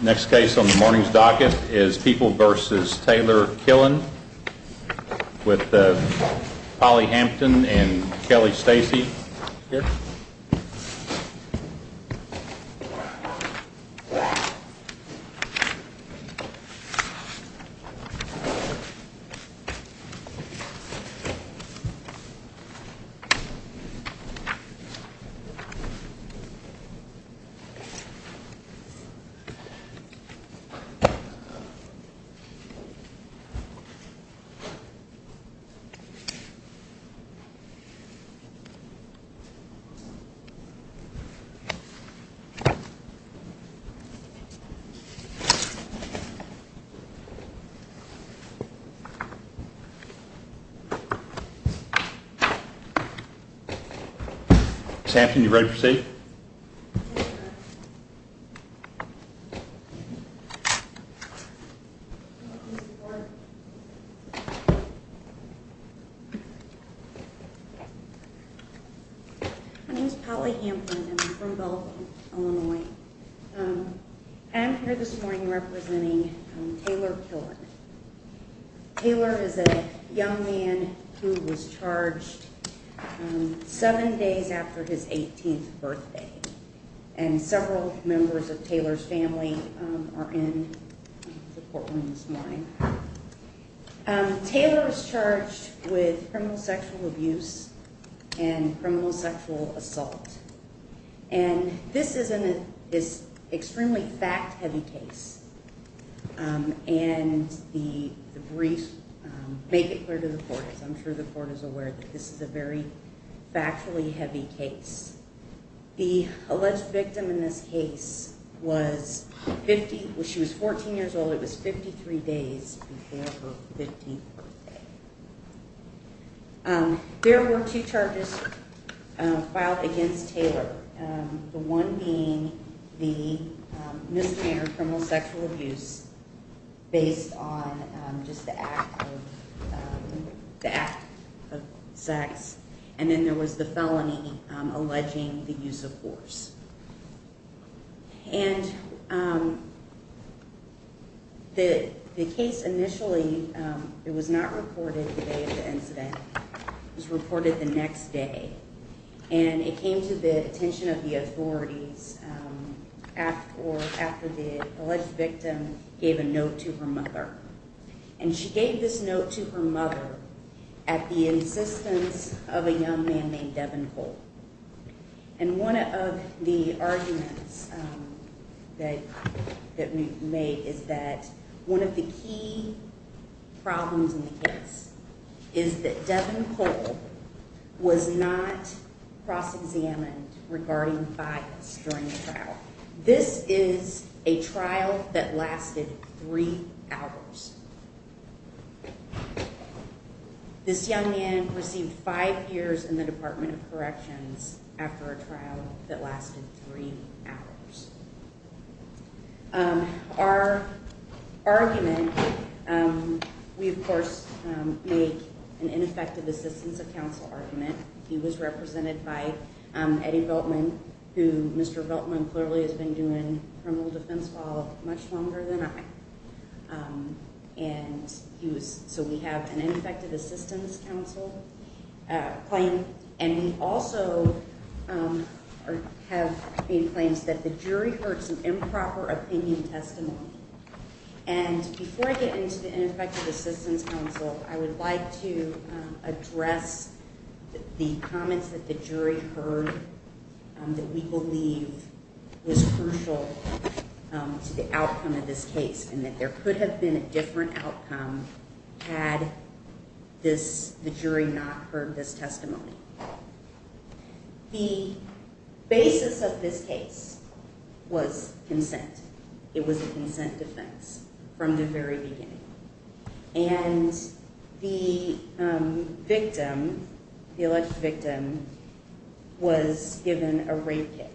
Next case on the morning's docket is People v. Taylor-Killen with Polly Hampton and Kelly Stacey. Sam, are you ready for safe? Polly Hampton And several members of Taylor's family are in the courtroom this morning. Taylor is charged with criminal sexual abuse and criminal sexual assault. And this is an extremely fact heavy case. And the brief, make it clear to the court, because I'm sure the court is aware that this is a very factually heavy case. The alleged victim in this case was, she was 14 years old, it was 53 days before her 15th birthday. There were two charges filed against Taylor. The one being the misdemeanor criminal sexual abuse based on just the act of, the act of sex. And then there was the felony alleging the use of force. And the case initially, it was not reported the day of the incident, it was reported the next day. And it came to the attention of the authorities after the alleged victim gave a note to her mother. And she gave this note to her mother at the insistence of a young man named Devin Cole. And one of the arguments that we made is that one of the key problems in the case is that Devin Cole was not cross examined regarding bias during the trial. This is a trial that lasted three hours. This young man received five years in the Department of Corrections after a trial that lasted three hours. Our argument, we of course make an ineffective assistance of counsel argument. He was represented by Eddie Veltman, who Mr. Veltman clearly has been doing criminal defense law much longer than I. And he was, so we have an ineffective assistance counsel claim. And we also have claims that the jury heard some improper opinion testimony. And before I get into the ineffective assistance counsel, I would like to address the comments that the jury heard that we believe was crucial to the outcome of this case. And that there could have been a different outcome had the jury not heard this testimony. The basis of this case was consent. It was a consent defense from the very beginning. And the victim, the alleged victim, was given a rape kit.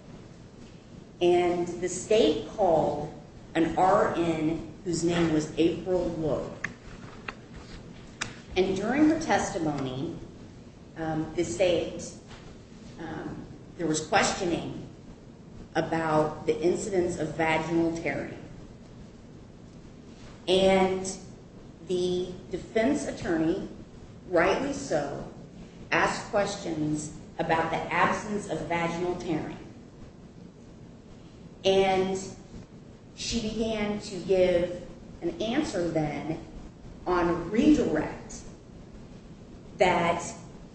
And the state called an RN whose name was April Lowe. And during her testimony, the state, there was questioning about the incidence of vaginal tearing. And the defense attorney, rightly so, asked questions about the absence of vaginal tearing. And she began to give an answer then on redirect that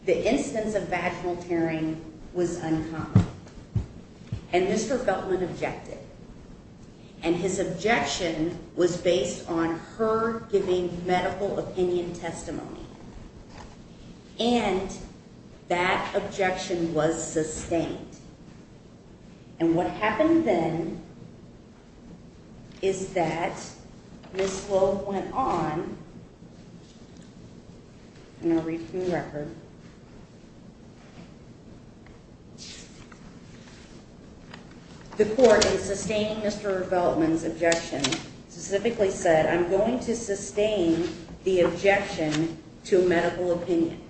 the incidence of vaginal tearing was uncommon. And Mr. Veltman objected. And his objection was based on her giving medical opinion testimony. And that objection was sustained. And what happened then is that Ms. Lowe went on, and I'll read from the record. The court, in sustaining Mr. Veltman's objection, specifically said, I'm going to sustain the objection to medical opinion.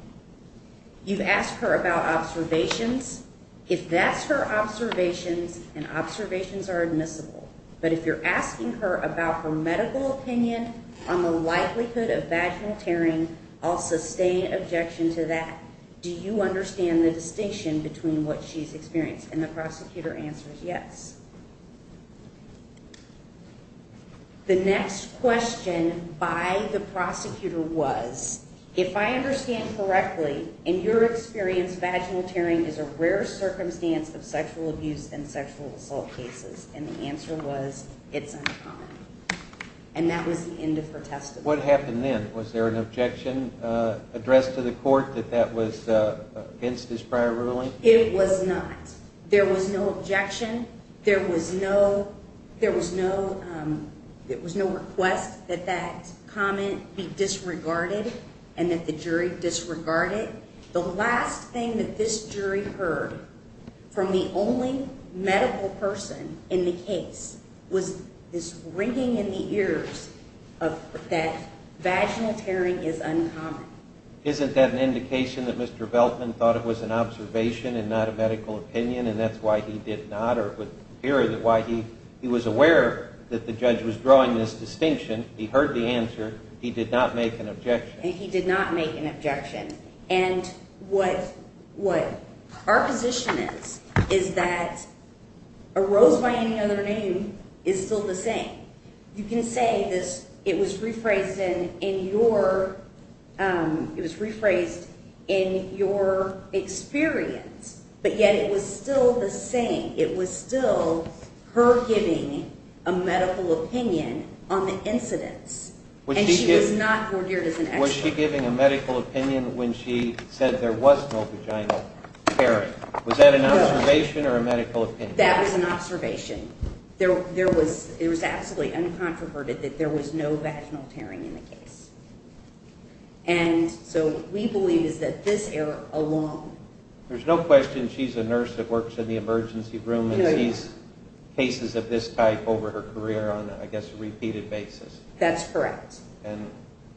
You've asked her about observations. If that's her observations, and observations are admissible, but if you're asking her about her medical opinion on the likelihood of vaginal tearing, I'll sustain objection to that. Do you understand the distinction between what she's experienced? And the prosecutor answers, yes. The next question by the prosecutor was, if I understand correctly, in your experience, vaginal tearing is a rare circumstance of sexual abuse and sexual assault cases. And the answer was, it's uncommon. And that was the end of her testimony. What happened then? Was there an objection addressed to the court that that was against his prior ruling? It was not. There was no objection. There was no request that that comment be disregarded and that the jury disregard it. The last thing that this jury heard from the only medical person in the case was this ringing in the ears that vaginal tearing is uncommon. Isn't that an indication that Mr. Veltman thought it was an observation and not a medical opinion? And that's why he did not, or it would appear that he was aware that the judge was drawing this distinction. He heard the answer. He did not make an objection. And he did not make an objection. And what our position is is that a rose by any other name is still the same. You can say it was rephrased in your experience, but yet it was still the same. It was still her giving a medical opinion on the incidents. And she was not vordered as an expert. Was she giving a medical opinion when she said there was no vaginal tearing? Was that an observation or a medical opinion? That was an observation. It was absolutely uncontroverted that there was no vaginal tearing in the case. And so what we believe is that this error alone. There's no question she's a nurse that works in the emergency room and sees cases of this type over her career on, I guess, a repeated basis. That's correct. And it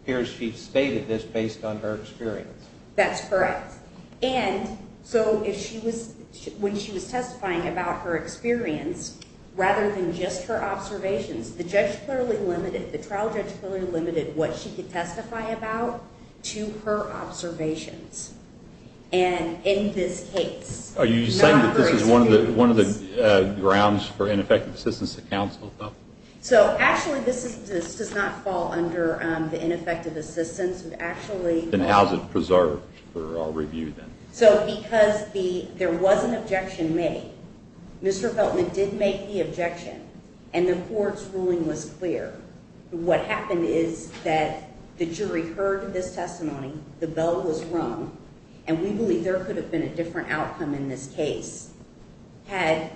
appears she stated this based on her experience. That's correct. And so when she was testifying about her experience, rather than just her observations, the trial judge clearly limited what she could testify about to her observations. And in this case, not her experience. Are you saying that this is one of the grounds for ineffective assistance to counsel? So, actually, this does not fall under the ineffective assistance. Then how is it preserved for our review then? So because there was an objection made, Mr. Feltman did make the objection, and the court's ruling was clear. What happened is that the jury heard this testimony, the bell was rung, and we believe there could have been a different outcome in this case had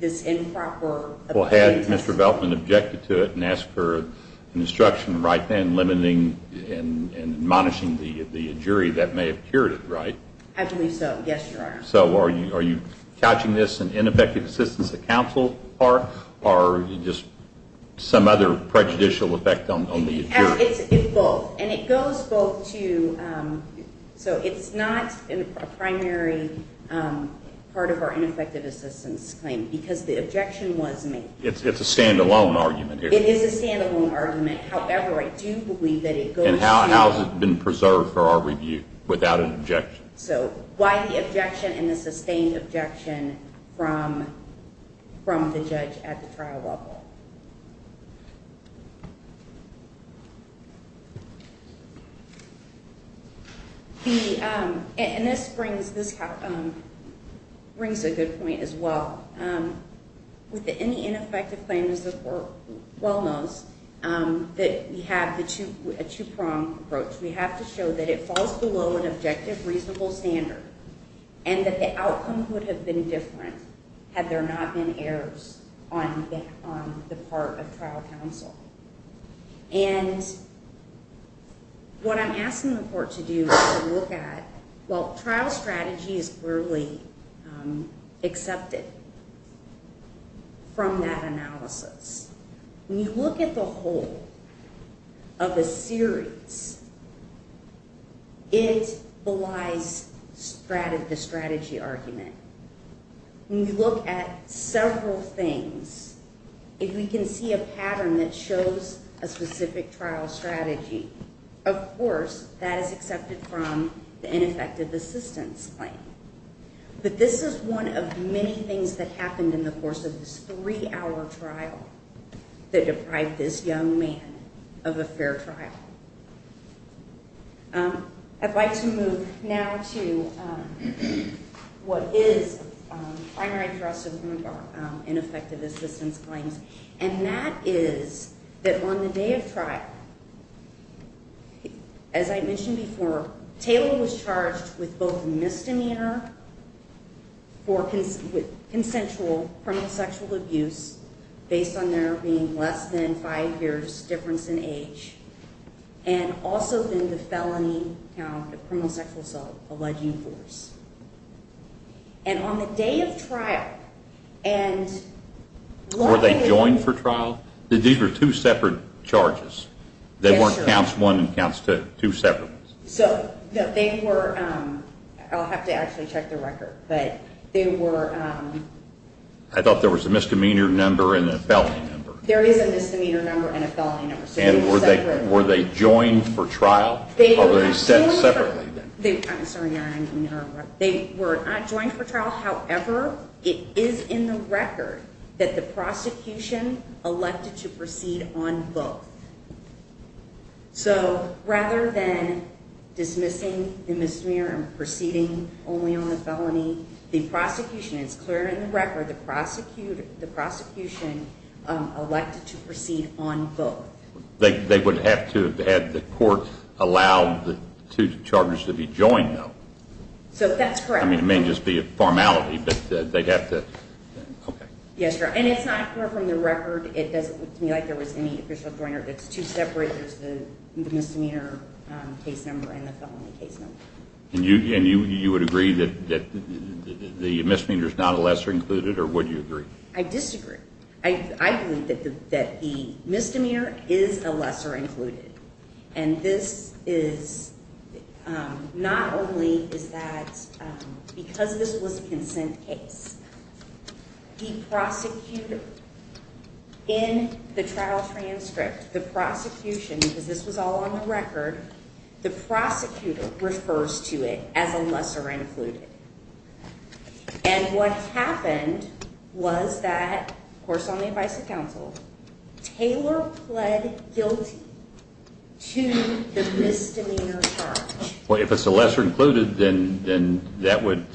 this improper Well, had Mr. Feltman objected to it and asked for an instruction right then limiting and admonishing the jury, that may have cured it, right? I believe so. Yes, Your Honor. So are you couching this in ineffective assistance to counsel? Or are you just some other prejudicial effect on the jury? It's both. And it goes both to, so it's not a primary part of our ineffective assistance claim because the objection was made. It's a stand-alone argument here. It is a stand-alone argument. However, I do believe that it goes to And how has it been preserved for our review without an objection? So why the objection and the sustained objection from the judge at the trial level? And this brings a good point as well. With any ineffective claim, as the court well knows, that we have a two-pronged approach. We have to show that it falls below an objective, reasonable standard and that the outcome would have been different had there not been errors on the part of trial counsel. And what I'm asking the court to do is to look at, well, trial strategy is clearly accepted from that analysis. When you look at the whole of a series, it belies the strategy argument. When you look at several things, if we can see a pattern that shows a specific trial strategy, of course, that is accepted from the ineffective assistance claim. But this is one of many things that happened in the course of this three-hour trial that deprived this young man of a fair trial. I'd like to move now to what is primary thrust of Rumbaugh in effective assistance claims, and that is that on the day of trial, as I mentioned before, Taylor was charged with both misdemeanor for consensual criminal sexual abuse based on there being less than five years' difference in age, and also then the felony count of criminal sexual assault, alleging force. And on the day of trial, and... Were they joined for trial? These were two separate charges. They weren't counts one and counts two separate. So they were... I'll have to actually check the record. But they were... I thought there was a misdemeanor number and a felony number. There is a misdemeanor number and a felony number. And were they joined for trial? They were not joined for trial, however, it is in the record that the prosecution elected to proceed on both. So rather than dismissing the misdemeanor and proceeding only on the felony, the prosecution, it's clear in the record, the prosecution elected to proceed on both. They would have to have had the court allow the two charges to be joined, though. So that's correct. I mean, it may just be a formality, but they'd have to... Yes, Your Honor. And it's not clear from the record. It doesn't look to me like there was any official joiner. It's two separate. There's the misdemeanor case number and the felony case number. And you would agree that the misdemeanor is not a lesser included, or would you agree? I disagree. I believe that the misdemeanor is a lesser included. And this is... Not only is that because this was a consent case, the prosecutor in the trial transcript, the prosecution, because this was all on the record, the prosecutor refers to it as a lesser included. And what happened was that, of course, on the advice of counsel, Taylor pled guilty to the misdemeanor charge. Well, if it's a lesser included, then that would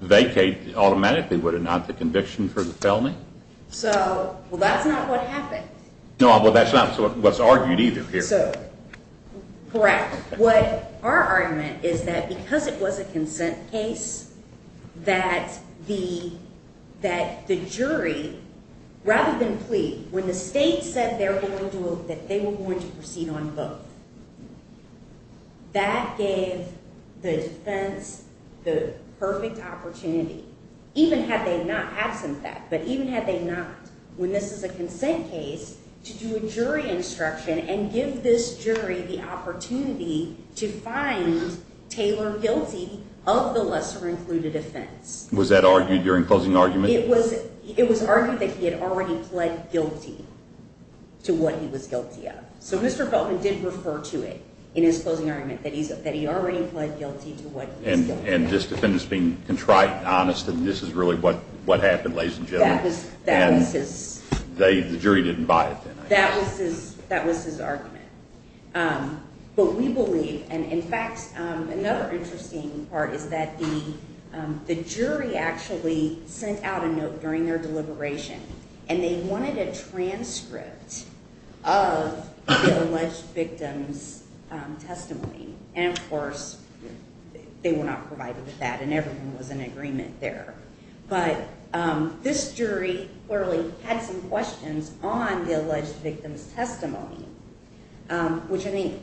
vacate automatically, would it not, the conviction for the felony? So, well, that's not what happened. No, well, that's not what's argued either here. So, correct. What our argument is that because it was a consent case, that the jury, rather than plead, when the state said they were going to proceed on both, that gave the defense the perfect opportunity, even had they not had some fact, but even had they not, when this is a consent case, to do a jury instruction and give this jury the opportunity to find Taylor guilty of the lesser included offense. Was that argued during closing argument? It was argued that he had already pled guilty to what he was guilty of. So Mr. Feldman did refer to it in his closing argument, that he already pled guilty to what he was guilty of. And this defendant's being contrite and honest, and this is really what happened, ladies and gentlemen. That was his. The jury didn't buy it then. That was his argument. But we believe, and in fact, another interesting part is that the jury actually sent out a note during their deliberation, and they wanted a transcript of the alleged victim's testimony. And, of course, they were not provided with that, and everyone was in agreement there. But this jury clearly had some questions on the alleged victim's testimony, which I mean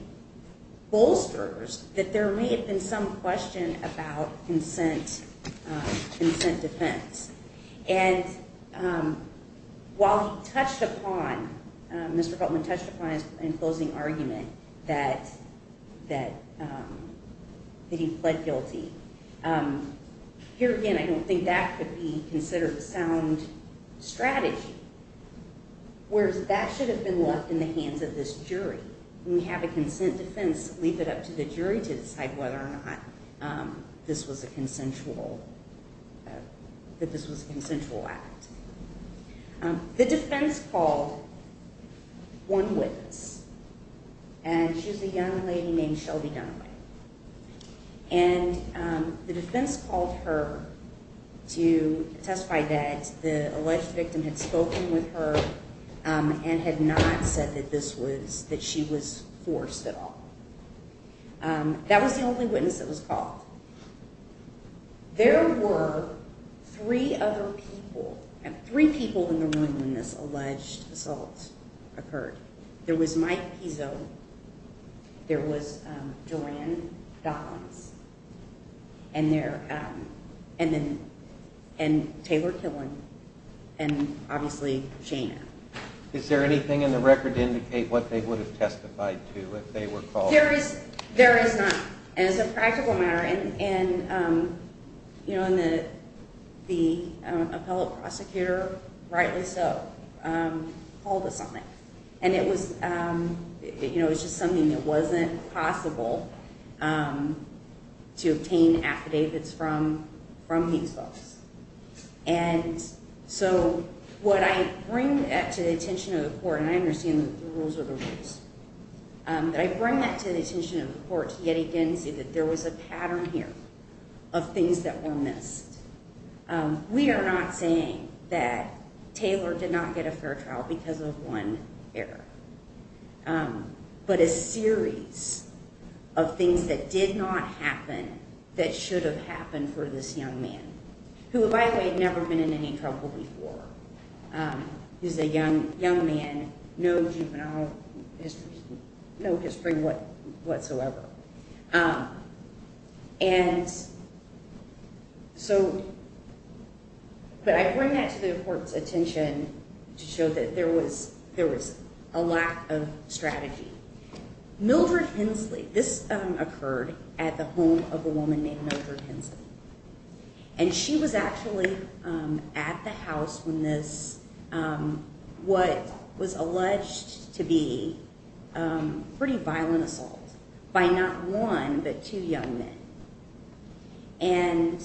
bolsters that there may have been some question about consent defense. And while he touched upon, Mr. Feldman touched upon in his closing argument that he pled guilty, here again I don't think that could be considered a sound strategy, whereas that should have been left in the hands of this jury. When we have a consent defense, leave it up to the jury to decide whether or not this was a consensual, that this was a consensual act. The defense called one witness, and she was a young lady named Shelby Dunaway. And the defense called her to testify that the alleged victim had spoken with her and had not said that this was, that she was forced at all. That was the only witness that was called. There were three other people, three people in the room when this alleged assault occurred. There was Mike Pizzo, there was Duran Docklands, and Taylor Killen, and obviously Shana. Is there anything in the record to indicate what they would have testified to if they were called? There is not, and it's a practical matter. And the appellate prosecutor, rightly so, called us on it. And it was just something that wasn't possible to obtain affidavits from these folks. And so what I bring to the attention of the court, and I understand that the rules are the rules, but I bring that to the attention of the court to yet again say that there was a pattern here of things that were missed. We are not saying that Taylor did not get a fair trial because of one error, but a series of things that did not happen that should have happened for this young man, who, by the way, had never been in any trouble before. He was a young man, no juvenile history, no history whatsoever. But I bring that to the court's attention to show that there was a lack of strategy. Mildred Hensley, this occurred at the home of a woman named Mildred Hensley. And she was actually at the house when this, what was alleged to be pretty violent assault by not one but two young men. And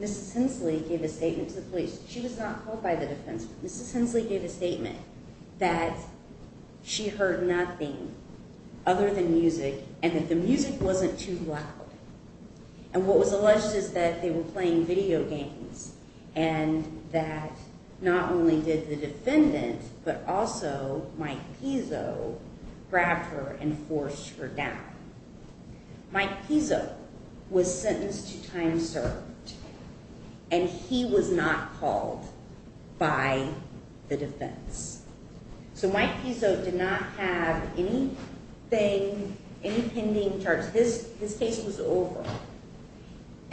Mrs. Hensley gave a statement to the police. She was not called by the defense, but Mrs. Hensley gave a statement that she heard nothing other than music, and that the music wasn't too loud. And what was alleged is that they were playing video games, and that not only did the defendant, but also Mike Pizzo grabbed her and forced her down. Mike Pizzo was sentenced to time served, and he was not called by the defense. So Mike Pizzo did not have anything, any pending charges. His case was over,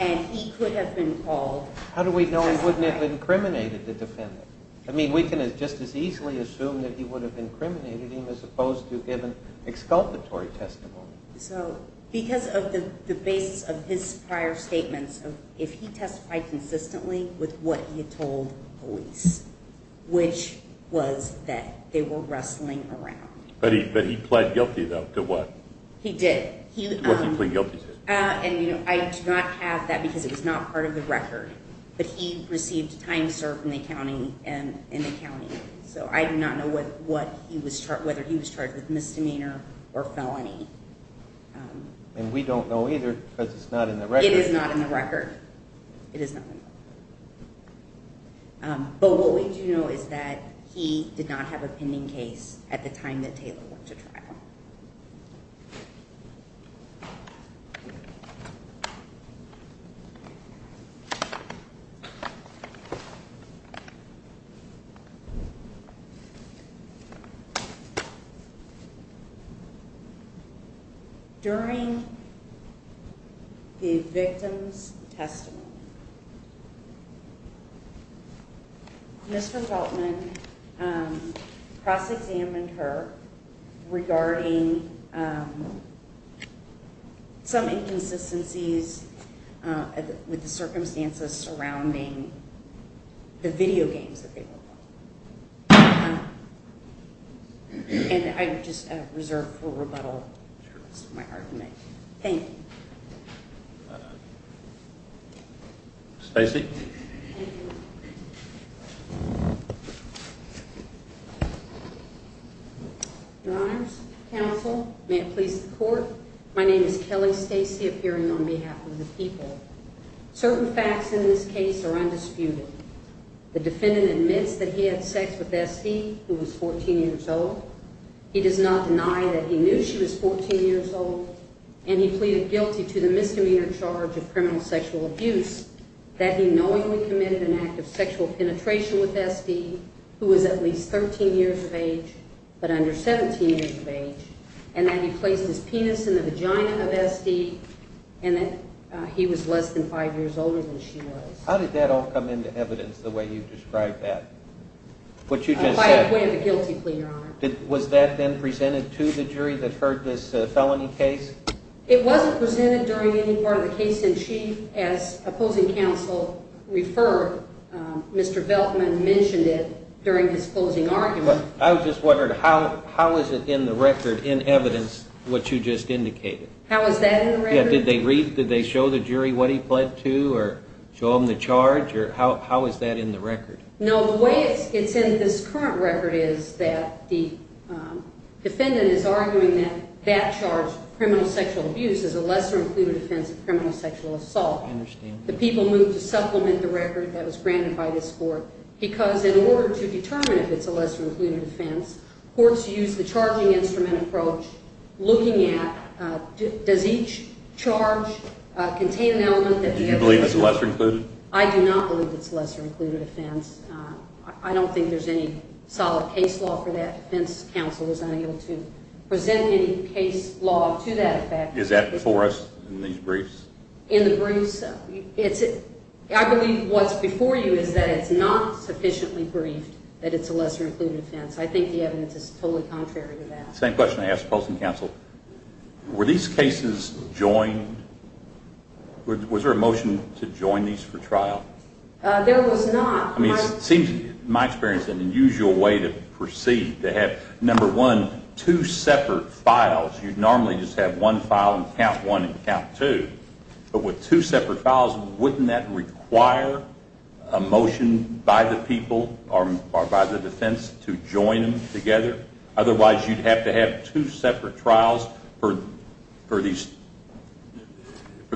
and he could have been called. How do we know he wouldn't have incriminated the defendant? I mean, we can just as easily assume that he would have incriminated him as opposed to given exculpatory testimony. So because of the basis of his prior statements, if he testified consistently with what he had told police, which was that they were wrestling around. But he pled guilty, though, to what? He did. He pled guilty. And I do not have that, because it was not part of the record. But he received time served in the county. So I do not know whether he was charged with misdemeanor or felony. And we don't know either, because it's not in the record. It is not in the record. It is not in the record. But what we do know is that he did not have a pending case at the time that Taylor went to trial. Thank you. During the victim's testimony, Mr. Feltman cross-examined her regarding some inconsistencies with the circumstances surrounding the video games that they were playing. And I just reserve for rebuttal for the rest of my argument. Thank you. Stacey? Your Honors, Counsel, may it please the Court, my name is Kelly Stacey, appearing on behalf of the people. Certain facts in this case are undisputed. The defendant admits that he had sex with Esty, who was 14 years old. He does not deny that he knew she was 14 years old. And he pleaded guilty to the misdemeanor charge of criminal sexual abuse, that he knowingly committed an act of sexual penetration with Esty, who was at least 13 years of age, but under 17 years of age, and that he placed his penis in the vagina of Esty, and that he was less than five years older than she was. How did that all come into evidence, the way you described that? A quiet way of a guilty plea, Your Honor. Was that then presented to the jury that heard this felony case? It wasn't presented during any part of the case, and she, as opposing counsel referred, Mr. Veltman mentioned it during his closing argument. I was just wondering, how is it in the record, in evidence, what you just indicated? How is that in the record? Did they read, did they show the jury what he pled to, or show them the charge, or how is that in the record? No, the way it's in this current record is that the defendant is arguing that that charge, criminal sexual abuse, is a lesser-included offense of criminal sexual assault. I understand that. The people moved to supplement the record that was granted by this court, because in order to determine if it's a lesser-included offense, courts use the charging instrument approach, looking at does each charge contain an element that the other is not? Do you believe it's lesser-included? I do not believe it's a lesser-included offense. I don't think there's any solid case law for that. Defense counsel was unable to present any case law to that effect. Is that before us in these briefs? In the briefs, I believe what's before you is that it's not sufficiently briefed that it's a lesser-included offense. I think the evidence is totally contrary to that. Same question I asked opposing counsel. Were these cases joined? Was there a motion to join these for trial? There was not. It seems, in my experience, an unusual way to proceed, to have, number one, two separate files. You'd normally just have one file and count one and count two. But with two separate files, wouldn't that require a motion by the people or by the defense to join them together? Otherwise, you'd have to have two separate trials for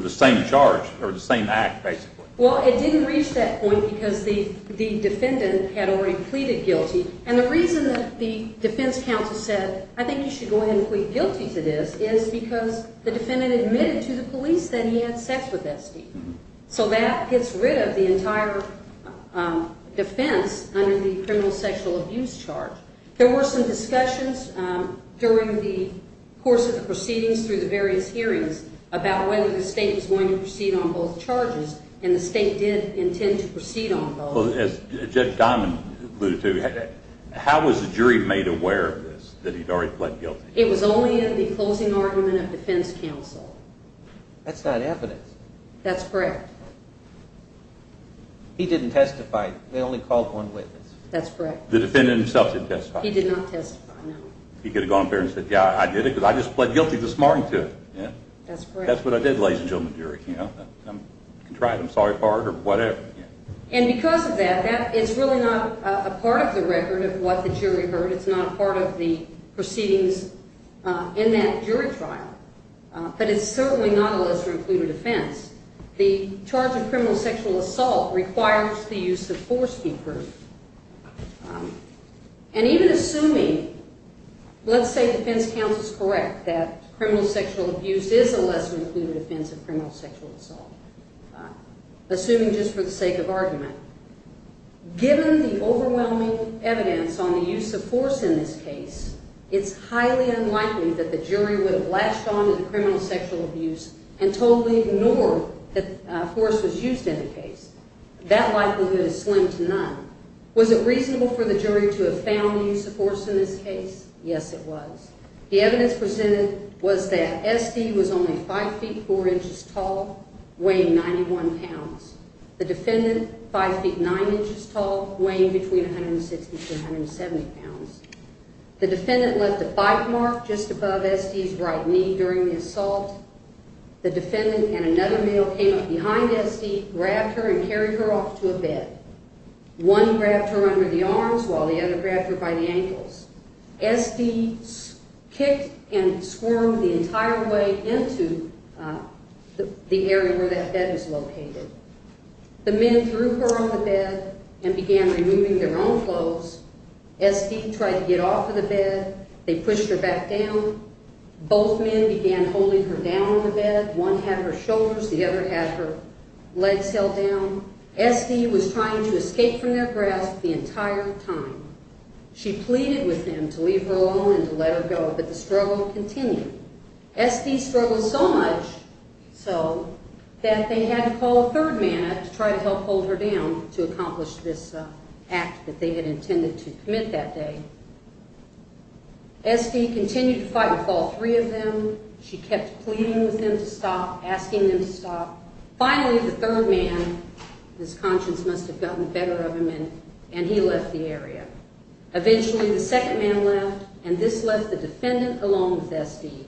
the same charge or the same act, basically. Well, it didn't reach that point because the defendant had already pleaded guilty. And the reason that the defense counsel said, I think you should go ahead and plead guilty to this, is because the defendant admitted to the police that he had sex with that steed. So that gets rid of the entire defense under the criminal sexual abuse charge. There were some discussions during the course of the proceedings through the various hearings about whether the state was going to proceed on both charges, and the state did intend to proceed on both. Judge Diamond alluded to, how was the jury made aware of this, that he'd already pled guilty? It was only in the closing argument of defense counsel. That's not evidence. That's correct. He didn't testify. They only called one witness. That's correct. The defendant himself didn't testify. He did not testify, no. He could have gone up there and said, yeah, I did it, because I just pled guilty this morning to it. That's correct. That's what I did, ladies and gentlemen of the jury. I'm contrived. I'm sorry for it, or whatever. And because of that, it's really not a part of the record of what the jury heard. It's not a part of the proceedings in that jury trial. But it's certainly not a lesser-included offense. The charge of criminal sexual assault requires the use of force be proved. And even assuming, let's say defense counsel's correct that criminal sexual abuse is a lesser-included offense of criminal sexual assault, assuming just for the sake of argument, given the overwhelming evidence on the use of force in this case, it's highly unlikely that the jury would have latched on to the criminal sexual abuse and totally ignored that force was used in the case. That likelihood is slim to none. Was it reasonable for the jury to have found the use of force in this case? Yes, it was. The evidence presented was that SD was only 5 feet 4 inches tall, weighing 91 pounds. The defendant, 5 feet 9 inches tall, weighing between 160 to 170 pounds. The defendant left a bite mark just above SD's right knee during the assault. The defendant and another male came up behind SD, grabbed her, and carried her off to a bed. One grabbed her under the arms while the other grabbed her by the ankles. SD kicked and swarmed the entire way into the area where that bed was located. The men threw her on the bed and began removing their own clothes. SD tried to get off of the bed. They pushed her back down. Both men began holding her down on the bed. One had her shoulders, the other had her legs held down. SD was trying to escape from their grasp the entire time. She pleaded with them to leave her alone and to let her go, but the struggle continued. SD struggled so much so that they had to call a third man to try to help hold her down to accomplish this act that they had intended to commit that day. SD continued to fight with all three of them. She kept pleading with them to stop, asking them to stop. Finally, the third man, his conscience must have gotten better of him, and he left the area. Eventually, the second man left, and this left the defendant along with SD.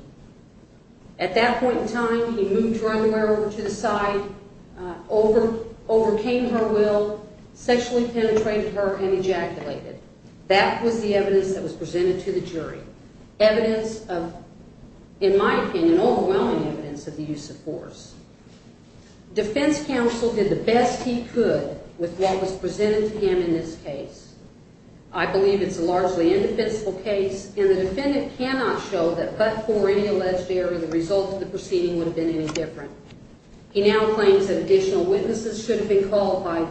At that point in time, he moved her underwear over to the side, overcame her will, sexually penetrated her, and ejaculated. That was the evidence that was presented to the jury, evidence of, in my opinion, overwhelming evidence of the use of force. Defense counsel did the best he could with what was presented to him in this case. I believe it's a largely indefensible case, and the defendant cannot show that but for any alleged error, the result of the proceeding would have been any different. He now claims that additional witnesses should have been called by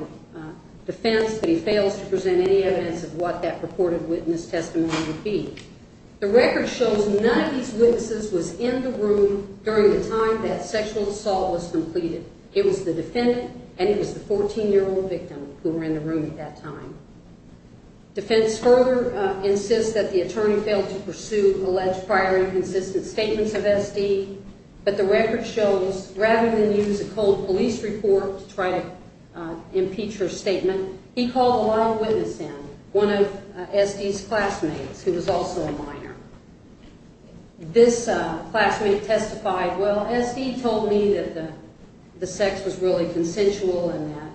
defense, but he fails to present any evidence of what that purported witness testimony would be. The record shows none of these witnesses was in the room during the time that sexual assault was completed. It was the defendant, and it was the 14-year-old victim who were in the room at that time. Defense further insists that the attorney failed to pursue alleged prior inconsistent statements of SD, but the record shows rather than use a cold police report to try to impeach her statement, he called a long witness in, one of SD's classmates who was also a minor. This classmate testified, well, SD told me that the sex was really consensual and that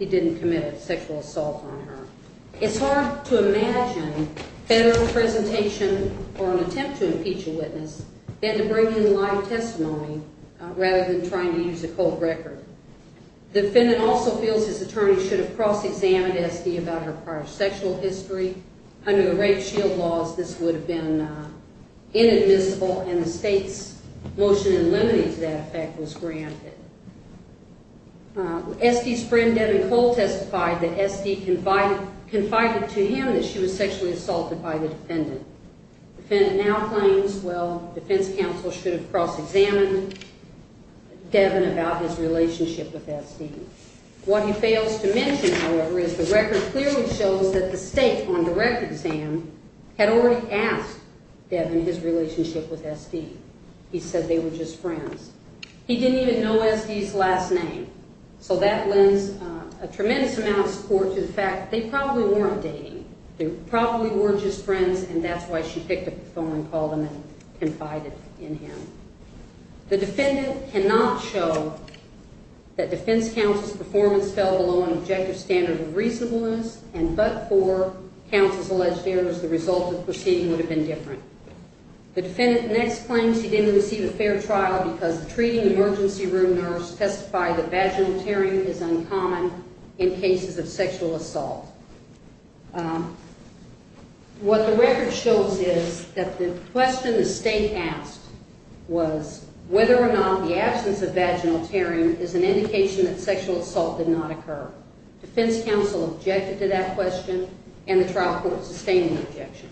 he didn't commit a sexual assault on her. It's hard to imagine better a presentation or an attempt to impeach a witness than to bring in live testimony rather than trying to use a cold record. The defendant also feels his attorney should have cross-examined SD about her prior sexual history. Under the rape shield laws, this would have been inadmissible, and the state's motion in limiting to that effect was granted. SD's friend, Devin Cole, testified that SD confided to him that she was sexually assaulted by the defendant. The defendant now claims, well, defense counsel should have cross-examined Devin about his relationship with SD. What he fails to mention, however, is the record clearly shows that the state, on direct exam, had already asked Devin his relationship with SD. He said they were just friends. He didn't even know SD's last name, so that lends a tremendous amount of support to the fact that they probably weren't dating. They probably were just friends, and that's why she picked up the phone and called him and confided in him. The defendant cannot show that defense counsel's performance fell below an objective standard of reasonableness, and but for counsel's alleged errors, the result of the proceeding would have been different. The defendant next claims he didn't receive a fair trial because the treating emergency room nurse testified that vaginal tearing is uncommon in cases of sexual assault. What the record shows is that the question the state asked was whether or not the absence of vaginal tearing is an indication that sexual assault did not occur. Defense counsel objected to that question, and the trial court sustained the objection.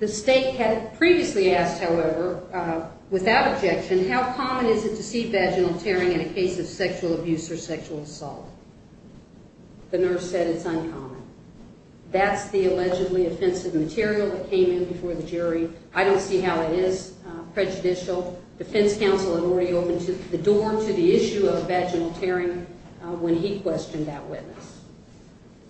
The state had previously asked, however, without objection, how common is it to see vaginal tearing in a case of sexual abuse or sexual assault? The nurse said it's uncommon. That's the allegedly offensive material that came in before the jury. I don't see how it is prejudicial. Defense counsel had already opened the door to the issue of vaginal tearing when he questioned that witness.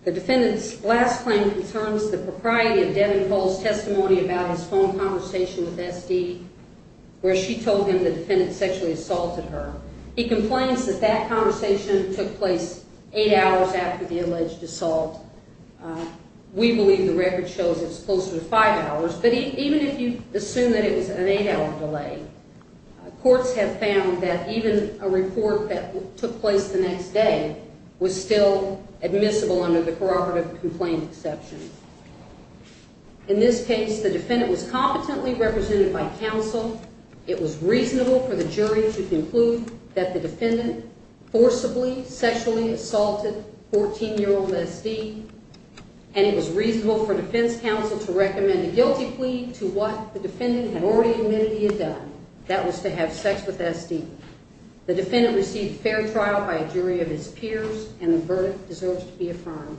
The defendant's last claim concerns the propriety of Devin Cole's testimony about his phone conversation with S.D., where she told him the defendant sexually assaulted her. He complains that that conversation took place eight hours after the alleged assault. We believe the record shows it's closer to five hours, but even if you assume that it was an eight-hour delay, courts have found that even a report that took place the next day was still admissible under the corroborative complaint exception. In this case, the defendant was competently represented by counsel. It was reasonable for the jury to conclude that the defendant forcibly sexually assaulted 14-year-old S.D., and it was reasonable for defense counsel to recommend a guilty plea to what the defendant had already admitted he had done. That was to have sex with S.D. The defendant received fair trial by a jury of his peers, and the verdict deserves to be affirmed.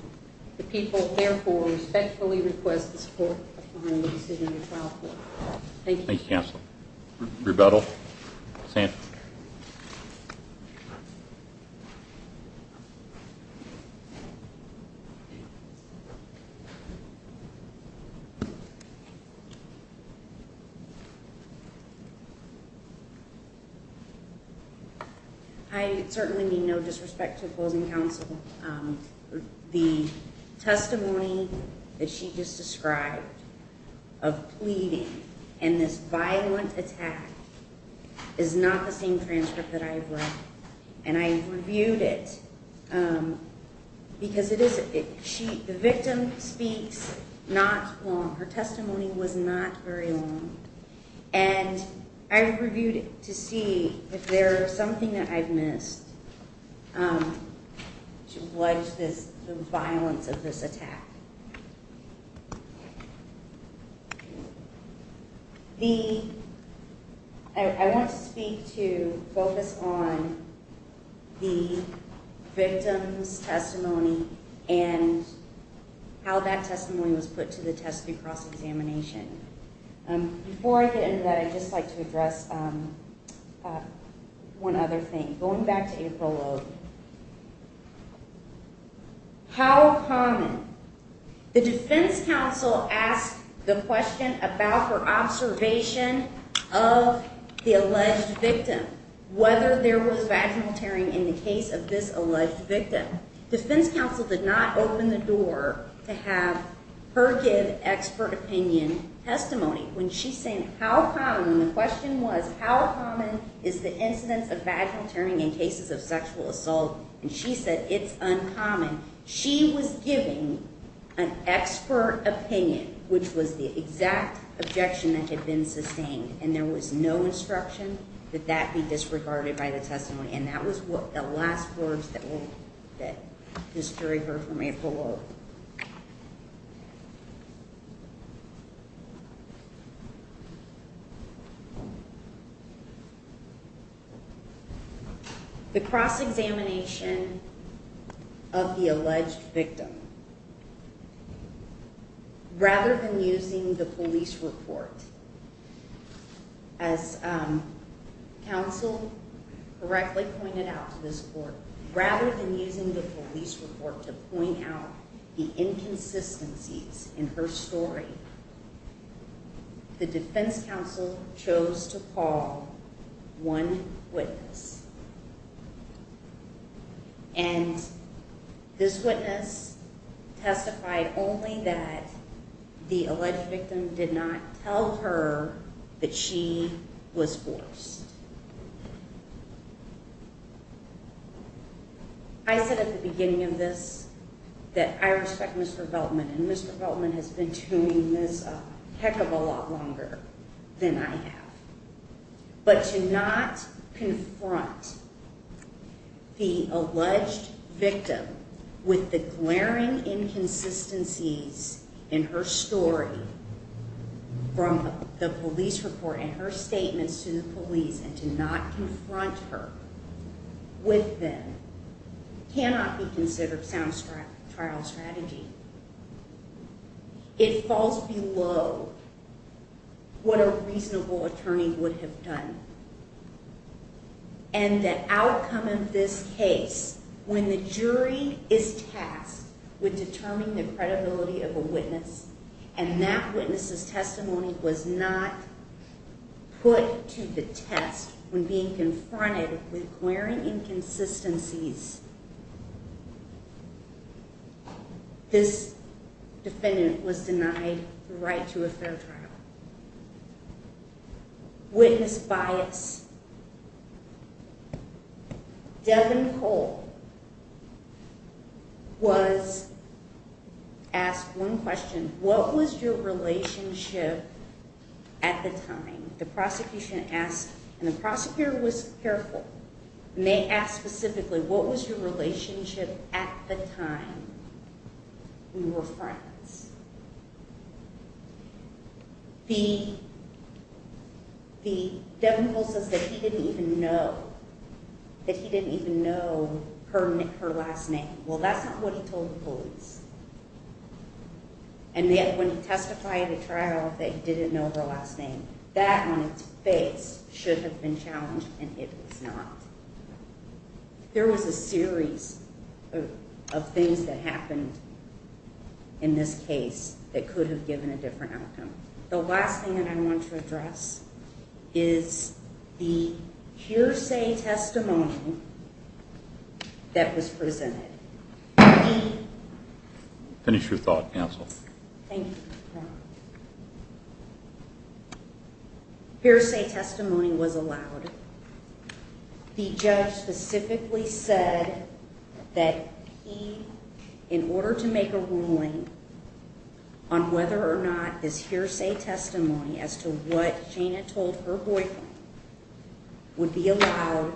The people, therefore, respectfully request the support behind the decision of the trial court. Thank you. Thank you, Counsel. Rebuttal. Sam. Thank you. I certainly mean no disrespect to opposing counsel. The testimony that she just described of pleading and this violent attack is not the same transcript that I've read. And I've reviewed it because the victim speaks not long. Her testimony was not very long. And I reviewed it to see if there is something that I've missed. What is the violence of this attack? I want to speak to focus on the victim's testimony and how that testimony was put to the test through cross-examination. Before I get into that, I'd just like to address one other thing. Going back to April. How common? The defense counsel asked the question about her observation of the alleged victim, whether there was vaginal tearing in the case of this alleged victim. Defense counsel did not open the door to have her give expert opinion testimony. When she said how common, the question was how common is the incidence of vaginal tearing in cases of sexual assault? And she said it's uncommon. She was giving an expert opinion, which was the exact objection that had been sustained. And there was no instruction that that be disregarded by the testimony. And that was the last words that this jury heard from April. The cross-examination of the alleged victim, rather than using the police report, as counsel correctly pointed out to this court, rather than using the police report to point out the inconsistencies in her story, the defense counsel chose to call one witness. And this witness testified only that the alleged victim did not tell her that she was forced. I said at the beginning of this that I respect Mr. Beltman, and Mr. Beltman has been doing this a heck of a lot longer than I have. But to not confront the alleged victim with the glaring inconsistencies in her story from the police report and her statements to the police, and to not confront her with them, cannot be considered sound trial strategy. It falls below what a reasonable attorney would have done. And the outcome of this case, when the jury is tasked with determining the credibility of a witness, and that witness's testimony was not put to the test when being confronted with glaring inconsistencies, this defendant was denied the right to a fair trial. Witness bias. Devin Cole was asked one question, what was your relationship at the time? The prosecution asked, and the prosecutor was careful, and they asked specifically, what was your relationship at the time you were friends? Police. The, Devin Cole says that he didn't even know, that he didn't even know her last name. Well, that's not what he told the police. And yet when he testified at a trial that he didn't know her last name, that on its face should have been challenged, and it was not. There was a series of things that happened in this case that could have given a different outcome. The last thing that I want to address is the hearsay testimony that was presented. Finish your thought, counsel. Thank you, Your Honor. Hearsay testimony was allowed. The judge specifically said that he, in order to make a ruling on whether or not this hearsay testimony as to what Shana told her boyfriend would be allowed,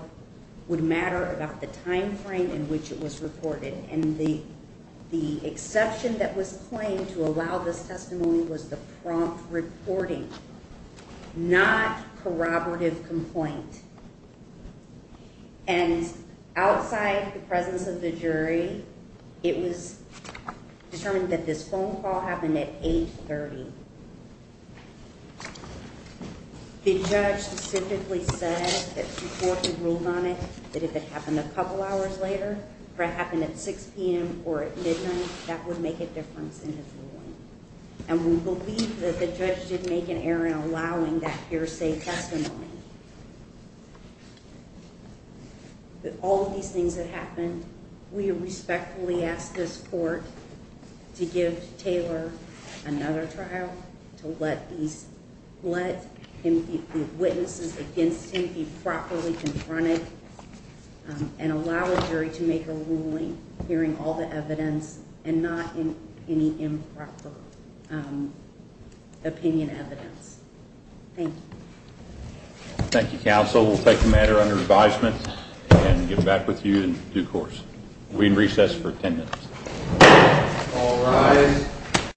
would matter about the time frame in which it was reported. And the exception that was claimed to allow this testimony was the prompt reporting, not corroborative complaint. And outside the presence of the jury, it was determined that this phone call happened at 8.30. The judge specifically said that before he ruled on it, that if it happened a couple hours later, if it happened at 6 p.m. or at midnight, that would make a difference in his ruling. And we believe that the judge did make an error in allowing that hearsay testimony. With all of these things that happened, we respectfully ask this court to give Taylor another trial, to let the witnesses against him be properly confronted, and allow a jury to make a ruling hearing all the evidence and not any improper opinion evidence. Thank you. Thank you, counsel. We'll take the matter under advisement and get back with you in due course. We recess for ten minutes. All rise.